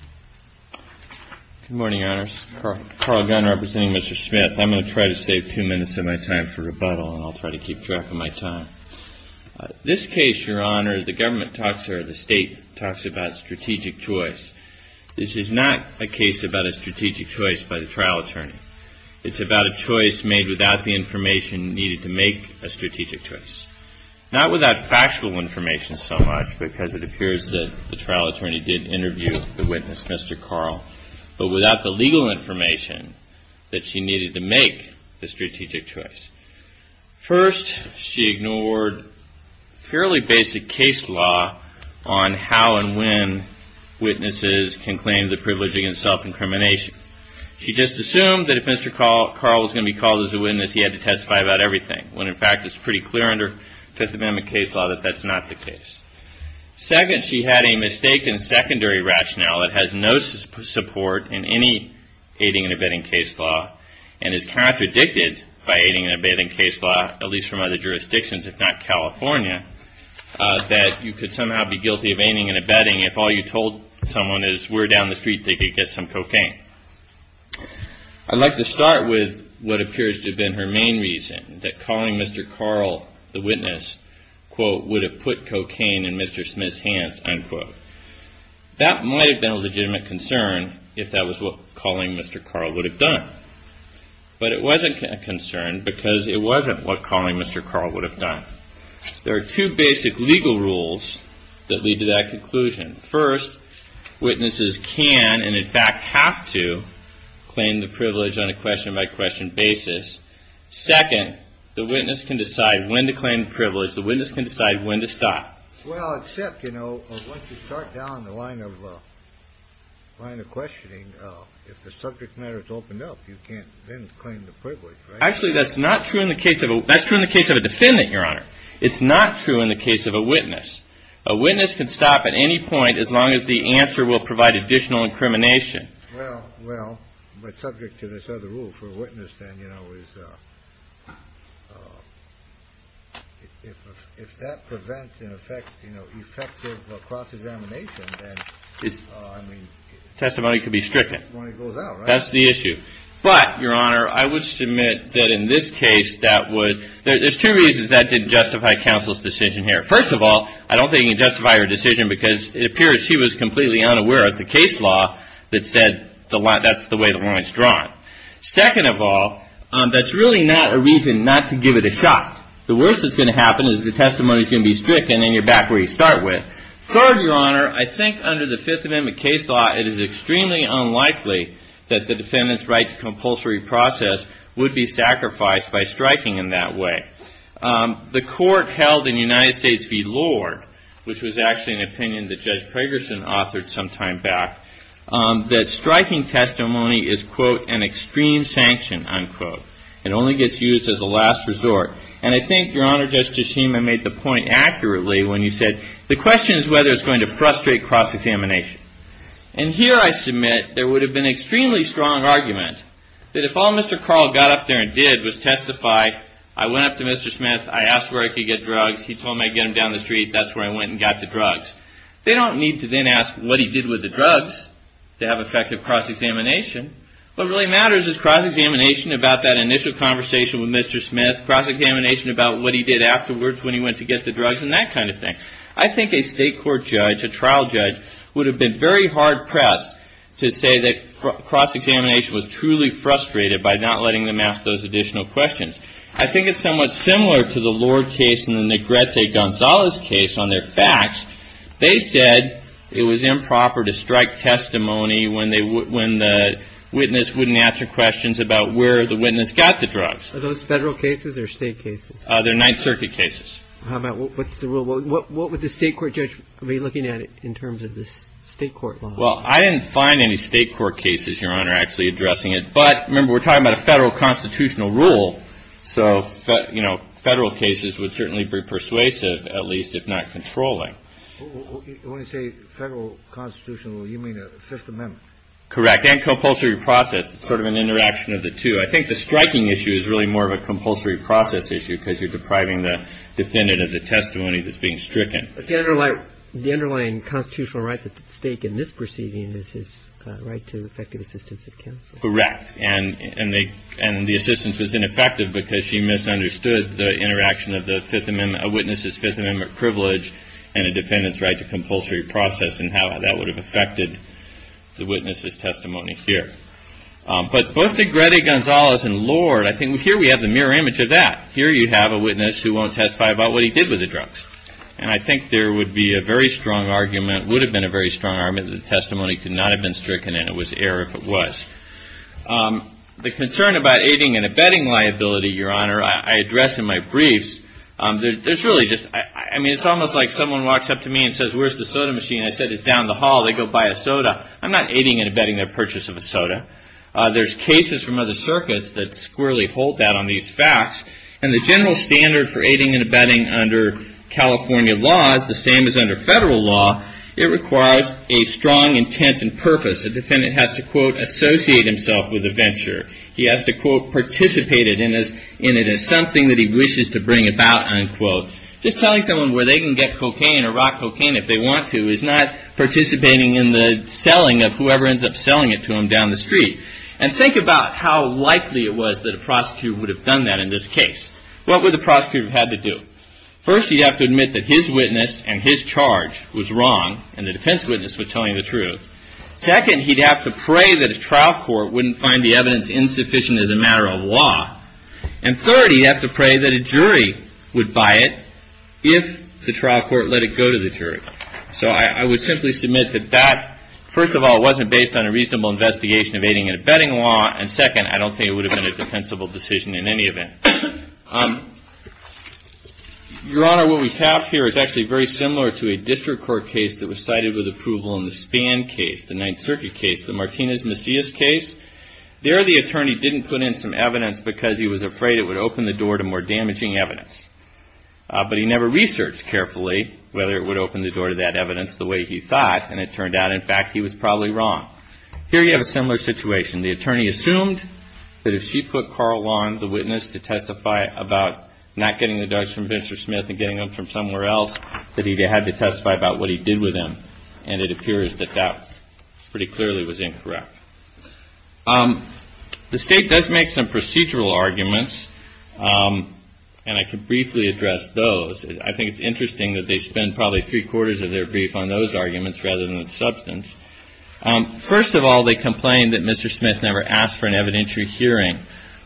Good morning, Your Honors. Carl Gunn representing Mr. Smith. I'm going to try to save two minutes of my time for rebuttal and I'll try to keep track of my time. This case, Your Honor, the government talks or the state talks about strategic choice. This is not a case about a strategic choice by the trial attorney. It's about a choice made without the information needed to make a strategic choice. Not without factual information so much because it appears that the trial attorney did interview the witness, Mr. Carl, but without the legal information that she needed to make a strategic choice. First, she ignored fairly basic case law on how and when witnesses can claim the privilege against self-incrimination. She just assumed that if Mr. Carl was going to be called as a witness, he had to testify about everything when in fact it's pretty clear under Fifth Amendment case law that that's not the case. Second, she had a mistaken secondary rationale that has no support in any aiding and abetting case law and is contradicted by aiding and abetting case law, at least from other jurisdictions if not California, that you could somehow be guilty of aiding and abetting if all you told someone is where down the street they could get some cocaine. I'd like to start with what appears to have been her main reason, that calling Mr. Carl the witness, quote, would have put cocaine in Mr. Smith's hands, unquote. That might have been a legitimate concern if that was what calling Mr. Carl would have done, but it wasn't a concern because it wasn't what calling Mr. Carl would have done. There are two basic legal rules that lead to that conclusion. First, witnesses can and in fact have to claim the privilege on a question-by-question basis. Second, the witness can decide when to claim the privilege. The witness can decide when to stop. Well, except, you know, once you start down the line of questioning, if the subject matter is opened up, you can't then claim the privilege, right? Actually, that's not true in the case of a – that's true in the case of a defendant, Your Honor. It's not true in the case of a witness. A witness can stop at any point as long as the answer will provide additional incrimination. Well, well, but subject to this other rule for a witness, then, you know, is – if that prevents, in effect, you know, effective cross-examination, then, I mean – Testimony could be stricken. Testimony goes out, right? That's the issue. But, Your Honor, I would submit that in this case, that would – there's two reasons that didn't justify counsel's decision here. First of all, I don't think it justified her decision because it appears she was completely unaware of the case law that said that's the way the line's drawn. Second of all, that's really not a reason not to give it a shot. The worst that's going to happen is the testimony's going to be stricken and you're back where you start with. Third, Your Honor, I think under the Fifth Amendment case law, it is extremely unlikely that the defendant's right to compulsory process would be sacrificed by striking in that way. The court held in United States v. Lord, which was actually an opinion that Judge Pragerson authored some time back, that striking testimony is, quote, an extreme sanction, unquote. It only gets used as a last resort. And I think, Your Honor, Justice Hema made the point accurately when you said the question is whether it's going to frustrate cross-examination. And here I submit there would have been an extremely strong argument that if all Mr. Carl got up there and did was testify, I went up to Mr. Smith, I asked where I could get drugs, he told me I could get them down the street, that's where I went and got the drugs. They don't need to then ask what he did with the drugs to have effective cross-examination. What really matters is cross-examination about that initial conversation with Mr. Smith, cross-examination about what he did afterwards when he went to get the drugs, and that kind of thing. I think a state court judge, a trial judge, would have been very hard-pressed to say that cross-examination was truly frustrated by not letting them ask those additional questions. I think it's somewhat similar to the Lord case and the Negrete Gonzalez case on their facts. They said it was improper to strike testimony when the witness wouldn't answer questions about where the witness got the drugs. Are those federal cases or state cases? They're Ninth Circuit cases. What's the rule? What would the state court judge be looking at in terms of the state court law? Well, I didn't find any state court cases, Your Honor, actually addressing it. But remember, we're talking about a federal constitutional rule, so federal cases would certainly be persuasive at least if not controlling. When you say federal constitutional rule, you mean the Fifth Amendment? Correct. And compulsory process. It's sort of an interaction of the two. I think the striking issue is really more of a compulsory process issue because you're depriving the defendant of the testimony that's being stricken. But the underlying constitutional right at stake in this proceeding is his right to effective assistance of counsel. Correct. And the assistance was ineffective because she misunderstood the interaction of the Fifth Amendment, a witness's Fifth Amendment privilege and a defendant's right to compulsory process and how that would have affected the witness's testimony here. But both to Greta Gonzalez and Lord, I think here we have the mirror image of that. Here you have a witness who won't testify about what he did with the drugs. And I think there would be a very strong argument, would have been a very strong argument, that the testimony could not have been stricken and it was error if it was. The concern about aiding and abetting liability, Your Honor, I address in my briefs. I mean, it's almost like someone walks up to me and says, where's the soda machine? I said, it's down the hall. They go buy a soda. I'm not aiding and abetting their purchase of a soda. There's cases from other circuits that squarely hold that on these facts. And the general standard for aiding and abetting under California law is the same as under federal law. It requires a strong intent and purpose. A defendant has to, quote, associate himself with a venture. He has to, quote, participate in it as something that he wishes to bring about, unquote. Just telling someone where they can get cocaine or rock cocaine if they want to is not participating in the selling of whoever ends up selling it to them down the street. And think about how likely it was that a prosecutor would have done that in this case. What would the prosecutor have had to do? First, he'd have to admit that his witness and his charge was wrong and the defense witness was telling the truth. Second, he'd have to pray that a trial court wouldn't find the evidence insufficient as a matter of law. And third, he'd have to pray that a jury would buy it if the trial court let it go to the jury. So I would simply submit that that, first of all, wasn't based on a reasonable investigation of aiding and abetting law. And second, I don't think it would have been a defensible decision in any event. Your Honor, what we have here is actually very similar to a district court case that was cited with approval in the Spann case, the Ninth Circuit case, the Martinez-Messias case. There the attorney didn't put in some evidence because he was afraid it would open the door to more damaging evidence. But he never researched carefully whether it would open the door to that evidence the way he thought, and it turned out, in fact, he was probably wrong. Here you have a similar situation. The attorney assumed that if she put Carl Lawn, the witness, to testify about not getting the drugs from Mr. Smith and getting them from somewhere else, that he had to testify about what he did with them, and it appears that that pretty clearly was incorrect. The State does make some procedural arguments, and I can briefly address those. I think it's interesting that they spend probably three-quarters of their brief on those arguments rather than the substance. First of all, they complained that Mr. Smith never asked for an evidentiary hearing.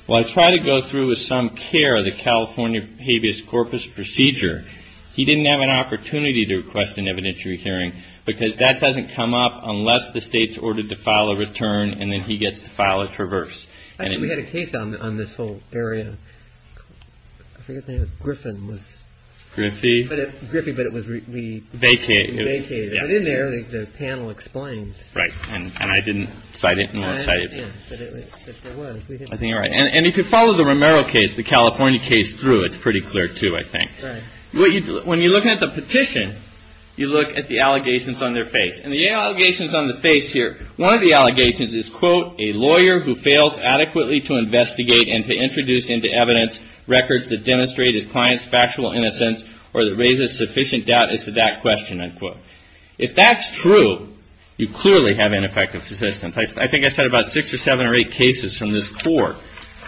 Well, I tried to go through with some care the California habeas corpus procedure. He didn't have an opportunity to request an evidentiary hearing because that doesn't come up unless the State's ordered to file a return and then he gets to file a traverse. I think we had a case on this whole area. I forget the name. Griffin was. Griffey. Griffey, but it was we. Vacated. Vacated. But in there, the panel explained. Right, and I didn't cite it. I think you're right. And if you follow the Romero case, the California case through, it's pretty clear, too, I think. When you look at the petition, you look at the allegations on their face. And the allegations on the face here, one of the allegations is, quote, a lawyer who fails adequately to investigate and to introduce into evidence records that demonstrate his client's factual innocence or that raises sufficient doubt as to that question, unquote. If that's true, you clearly have ineffective persistence. I think I said about six or seven or eight cases from this court.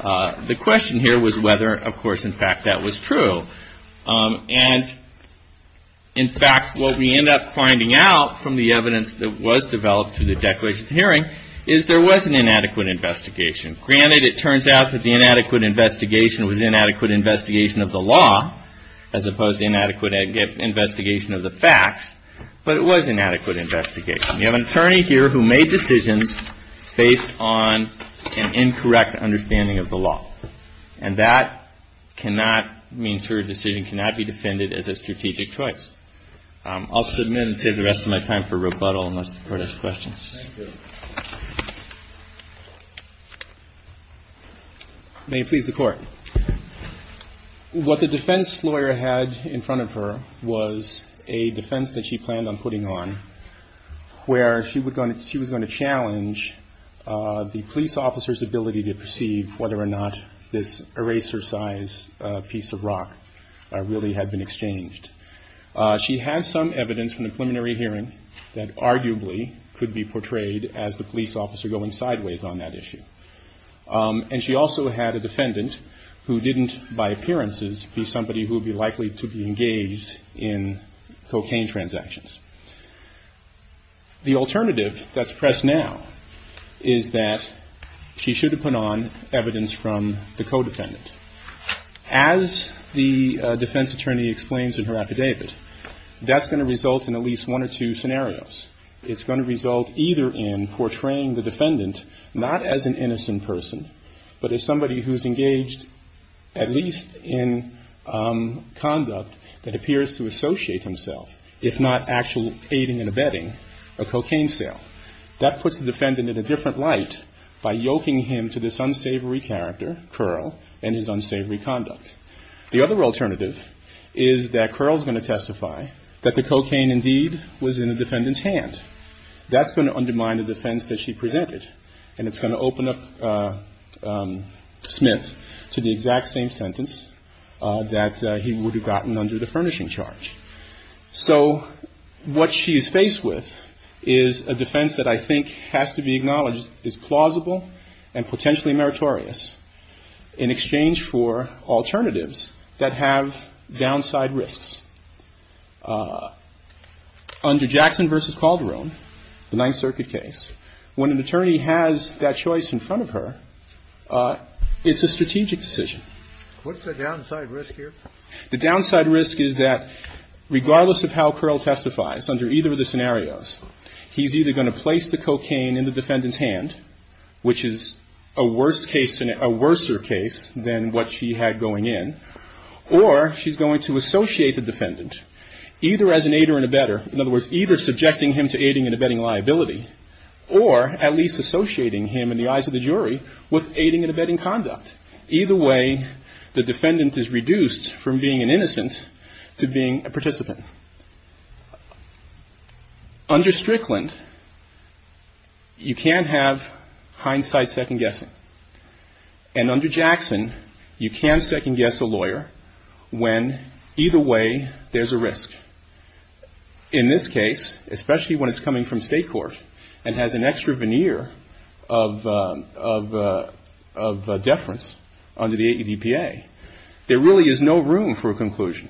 The question here was whether, of course, in fact, that was true. And, in fact, what we end up finding out from the evidence that was developed to the declaration of hearing is there was an inadequate investigation. Granted, it turns out that the inadequate investigation was inadequate investigation of the law as opposed to inadequate investigation of the facts. But it was an adequate investigation. You have an attorney here who made decisions based on an incorrect understanding of the law. And that cannot means her decision cannot be defended as a strategic choice. I'll submit and save the rest of my time for rebuttal unless the Court has questions. Thank you. May it please the Court. What the defense lawyer had in front of her was a defense that she planned on putting on where she was going to challenge the police officer's ability to perceive whether or not this eraser-sized piece of rock really had been exchanged. She had some evidence from the preliminary hearing that arguably could be portrayed as the police officer going sideways on that issue. And she also had a defendant who didn't, by appearances, be somebody who would be likely to be engaged in cocaine transactions. The alternative that's pressed now is that she should have put on evidence from the co-defendant. As the defense attorney explains in her affidavit, that's going to result in at least one or two scenarios. It's going to result either in portraying the defendant not as an innocent person, but as somebody who's engaged at least in conduct that appears to associate himself, if not actual aiding and abetting, a cocaine sale. That puts the defendant in a different light by yoking him to this unsavory character, Curl, and his unsavory conduct. The other alternative is that Curl's going to testify that the cocaine indeed was in the defendant's hand. That's going to undermine the defense that she presented, and it's going to open up Smith to the exact same sentence that he would have gotten under the furnishing charge. The defense that I think has to be acknowledged is plausible and potentially meritorious in exchange for alternatives that have downside risks. Under Jackson v. Calderon, the Ninth Circuit case, when an attorney has that choice in front of her, it's a strategic decision. The downside risk is that regardless of how Curl testifies under either of the scenarios, he's either going to place the cocaine in the defendant's hand, which is a worse case, a worse case than what she had going in, or she's going to associate the defendant either as an aider and abetter, in other words, either subjecting him to aiding and abetting liability, or at least associating him in the eyes of the jury with aiding and abetting conduct. Either way, the defendant is reduced from being an innocent to being a participant. Under Strickland, you can have hindsight second-guessing. And under Jackson, you can second-guess a lawyer when either way there's a risk. In this case, especially when it's coming from state court and has an extra veneer of deference under the ADPA, there really is no room for a conclusion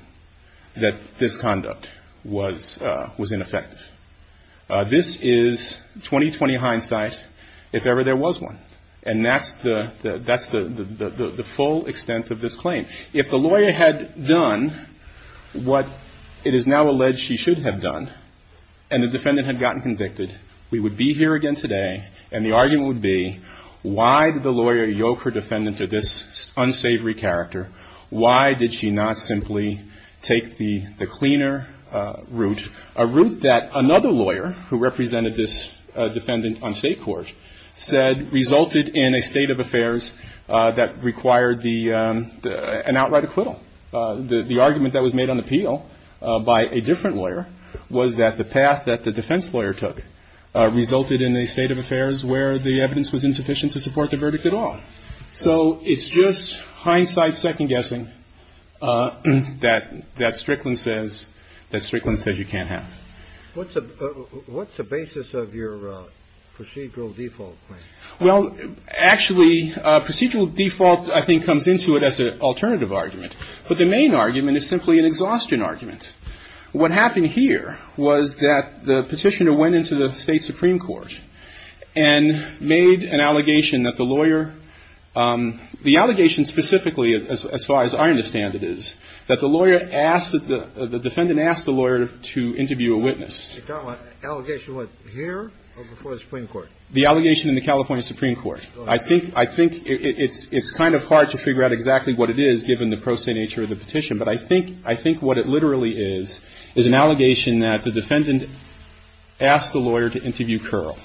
that this conduct was ineffective. This is 20-20 hindsight, if ever there was one. And that's the full extent of this claim. If the lawyer had done what it is now alleged she should have done, and the defendant had gotten convicted, we would be here again today, and the argument would be, why did the lawyer yoke her defendant to this unsavory character? Why did she not simply take the cleaner route, a route that another lawyer, who represented this defendant on state court, said resulted in a state of affairs that required an outright acquittal. The argument that was made on appeal by a different lawyer was that the path that the defense lawyer took resulted in a state of affairs where the evidence was insufficient to support the verdict at all. So it's just hindsight second-guessing that Strickland says you can't have. What's the basis of your procedural default claim? Well, actually, procedural default, I think, comes into it as an alternative argument. But the main argument is simply an exhaustion argument. What happened here was that the Petitioner went into the State Supreme Court and made an allegation that the lawyer the allegation specifically, as far as I understand it is, that the lawyer asked that the defendant asked the lawyer to interview a witness. The allegation was here or before the Supreme Court? The allegation in the California Supreme Court. I think it's kind of hard to figure out exactly what it is, given the pro se nature of the petition. But I think what it literally is, is an allegation that the defendant asked the lawyer to interview Curl.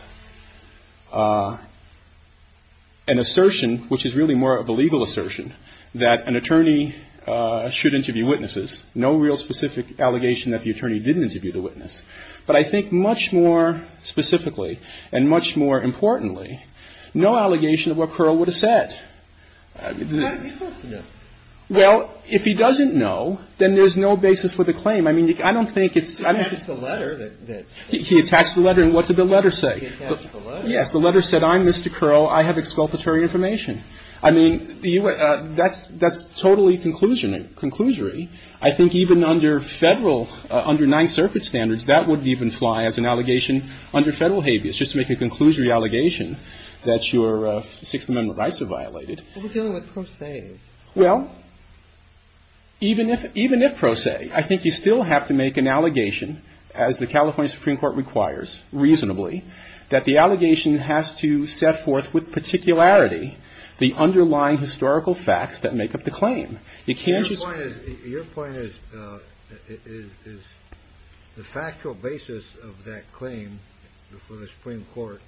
An assertion, which is really more of a legal assertion, that an attorney should interview witnesses. No real specific allegation that the attorney didn't interview the witness. But I think much more specifically and much more importantly, no allegation of what Curl would have said. Well, if he doesn't know, then there's no basis for the claim. I mean, I don't think it's He attached the letter. He attached the letter. And what did the letter say? He attached the letter. Yes. The letter said, I'm Mr. Curl. I have exculpatory information. I mean, that's totally conclusionary. I think even under Federal, under Ninth Circuit standards, that would even fly as an allegation under Federal habeas. Just to make a conclusory allegation that your Sixth Amendment rights are violated. Well, even if pro se, I think you still have to make an allegation, as the California Supreme Court requires reasonably, that the allegation has to set forth with particularity the underlying historical facts that make up the claim. You can't just Your point is, is the factual basis of that claim for the Supreme Court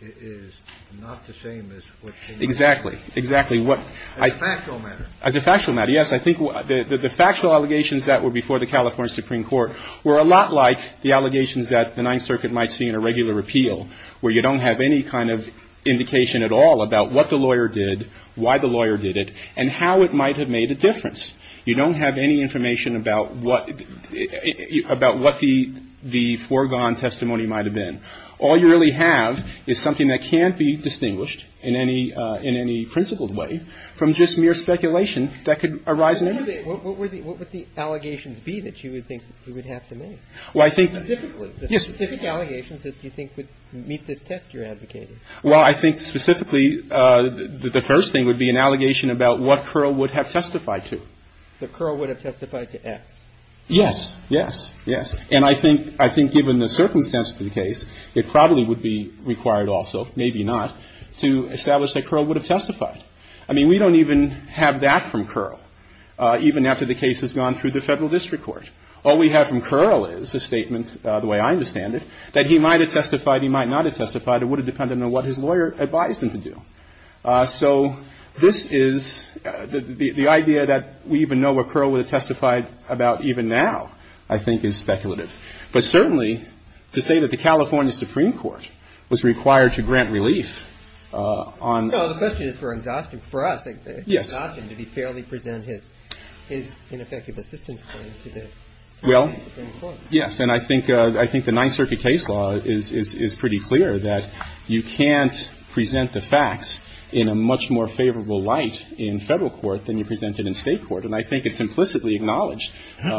is not the same as what's in the letter. Exactly. Exactly. As a factual matter. As a factual matter. Yes. I think the factual allegations that were before the California Supreme Court were a lot like the allegations that the Ninth Circuit might see in a regular repeal, where you don't have any kind of indication at all about what the lawyer did, why the lawyer did it, and how it might have made a difference. You don't have any information about what the foregone testimony might have been. All you really have is something that can't be distinguished in any principled way from just mere speculation that could arise. What would the allegations be that you would think you would have to make? Well, I think Specifically. Yes. Specific allegations that you think would meet this test you're advocating. Well, I think specifically the first thing would be an allegation about what Curl would have testified to. That Curl would have testified to X. Yes. Yes. Yes. And I think, I think given the circumstances of the case, it probably would be required also, maybe not, to establish that Curl would have testified. I mean, we don't even have that from Curl, even after the case has gone through the Federal District Court. All we have from Curl is a statement, the way I understand it, that he might have testified, he might not have testified, it would have depended on what his lawyer advised him to do. So this is, the idea that we even know what Curl would have testified about even now, I think, is speculative. But certainly, to say that the California Supreme Court was required to grant relief on No, the question is for exhaustion. For us, exhaustion. Yes. Did he fairly present his ineffective assistance claim to the California Supreme Court? Yes. And I think, I think the Ninth Circuit case law is, is pretty clear that you can't present the facts in a much more favorable light in Federal court than you present it in State court. And I think it's implicitly acknowledged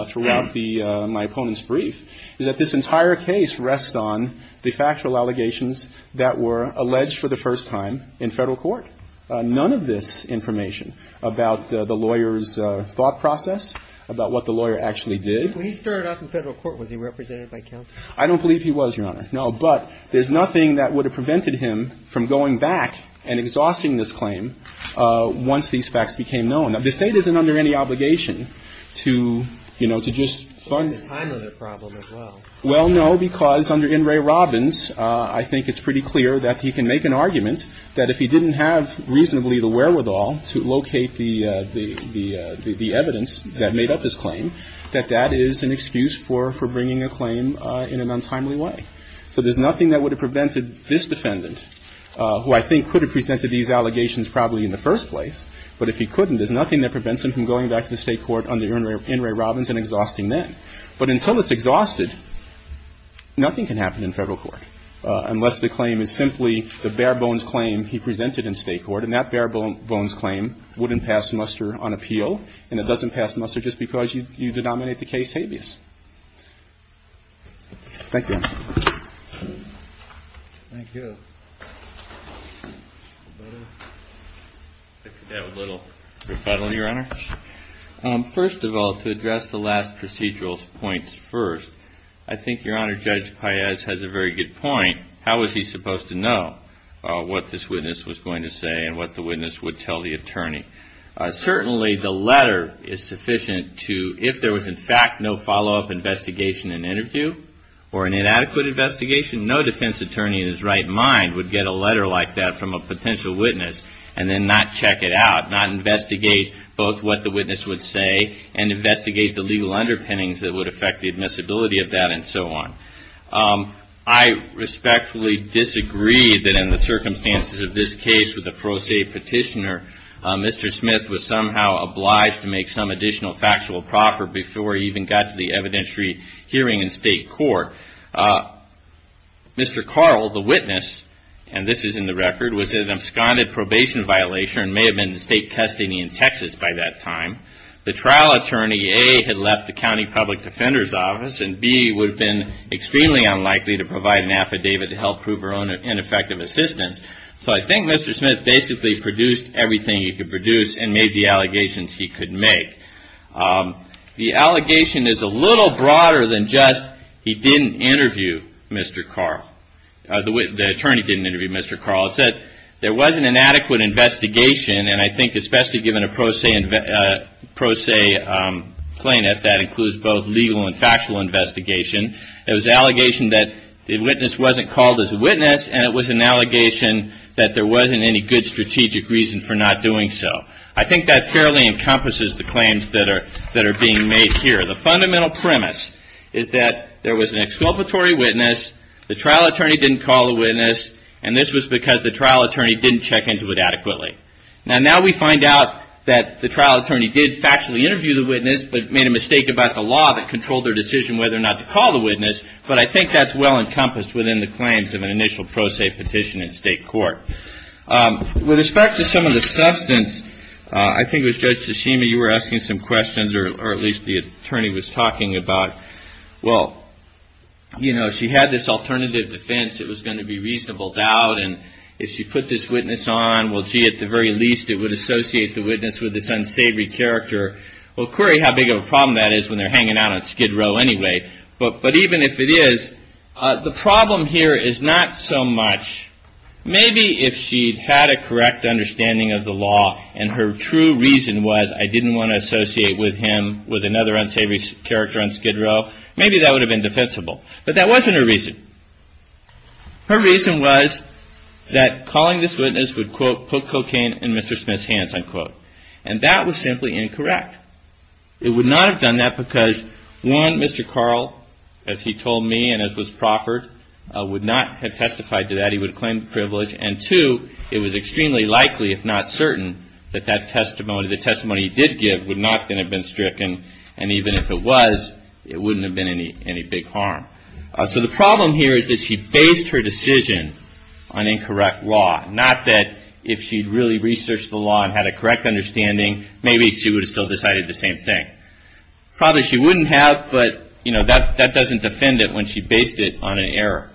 throughout the, my opponent's brief, is that this entire case rests on the factual allegations that were alleged for the first time in Federal court. None of this information about the lawyer's thought process, about what the lawyer actually did. When he started off in Federal court, was he represented by counsel? I don't believe he was, Your Honor. No. But there's nothing that would have prevented him from going back and exhausting this claim once these facts became known. Now, the State isn't under any obligation to, you know, to just fund. To find the time of the problem as well. Well, no, because under In re Robbins, I think it's pretty clear that he can make an argument that if he didn't have reasonably the wherewithal to locate the, the, the is an excuse for, for bringing a claim in an untimely way. So there's nothing that would have prevented this defendant, who I think could have presented these allegations probably in the first place, but if he couldn't, there's nothing that prevents him from going back to the State court under In re Robbins and exhausting them. But until it's exhausted, nothing can happen in Federal court unless the claim is simply the bare bones claim he presented in State court. And that bare bones claim wouldn't pass muster on appeal, and it doesn't pass muster just because you, you denominate the case habeas. Thank you. Thank you. A little rebuttal, Your Honor? First of all, to address the last procedural points first, I think Your Honor, Judge Paez has a very good point. How was he supposed to know what this witness was going to say and what the witness would tell the attorney? Certainly the letter is sufficient to, if there was in fact no follow-up investigation and interview or an inadequate investigation, no defense attorney in his right mind would get a letter like that from a potential witness and then not check it out, not investigate both what the witness would say and investigate the legal underpinnings that would affect the admissibility of that and so on. I respectfully disagree that in the circumstances of this case with a pro se petitioner, Mr. Smith was somehow obliged to make some additional factual proffer before he even got to the evidentiary hearing in state court. Mr. Carl, the witness, and this is in the record, was in an absconded probation violation and may have been in state custody in Texas by that time. The trial attorney, A, had left the county public defender's office, and B, would have been extremely unlikely to provide an affidavit to help prove her own ineffective assistance. So I think Mr. Smith basically produced everything he could produce and made the allegations he could make. The allegation is a little broader than just he didn't interview Mr. Carl. The attorney didn't interview Mr. Carl. It said there wasn't an adequate investigation, and I think especially given a pro se plaintiff, that includes both legal and factual investigation. It was an allegation that the witness wasn't called as a witness, and it was an allegation that there wasn't any good strategic reason for not doing so. I think that fairly encompasses the claims that are being made here. The fundamental premise is that there was an exculpatory witness, the trial attorney didn't call the witness, and this was because the trial attorney didn't check into it adequately. Now we find out that the trial attorney did factually interview the witness, but made a mistake about the decision whether or not to call the witness, but I think that's well encompassed within the claims of an initial pro se petition in state court. With respect to some of the substance, I think it was Judge Tsushima you were asking some questions, or at least the attorney was talking about, well, you know, she had this alternative defense, it was going to be reasonable doubt, and if she put this witness on, well, gee, at the very least it would associate the witness with this unsavory character. Well, Corey, how big of a problem that is when they're hanging out on Skid Row anyway, but even if it is, the problem here is not so much, maybe if she had a correct understanding of the law and her true reason was I didn't want to associate with him with another unsavory character on Skid Row, maybe that would have been defensible, but that wasn't her reason. Her reason was that calling this witness would, quote, put cocaine in Mr. Smith's hands, unquote, and that was simply incorrect. It would not have done that because, one, Mr. Carl, as he told me and as was proffered, would not have testified to that. He would claim privilege, and, two, it was extremely likely, if not certain, that that testimony, the testimony he did give, would not then have been stricken, and even if it was, it wouldn't have been any big harm. So the problem here is that she based her decision on incorrect law, not that if she'd really researched the law and had a correct understanding, maybe she would have still decided the same thing. Probably she wouldn't have, but, you know, that doesn't defend it when she based it on an error,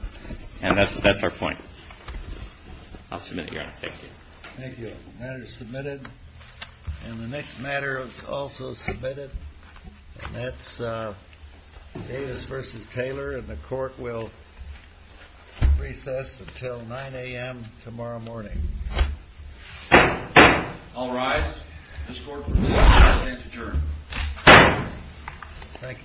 and that's our point. I'll submit it, Your Honor. Thank you. Thank you. The matter is submitted, and the next matter is also submitted, and that's Davis v. Taylor, and the Court will recess until 9 a.m. tomorrow morning. The hearing is adjourned. Thank you.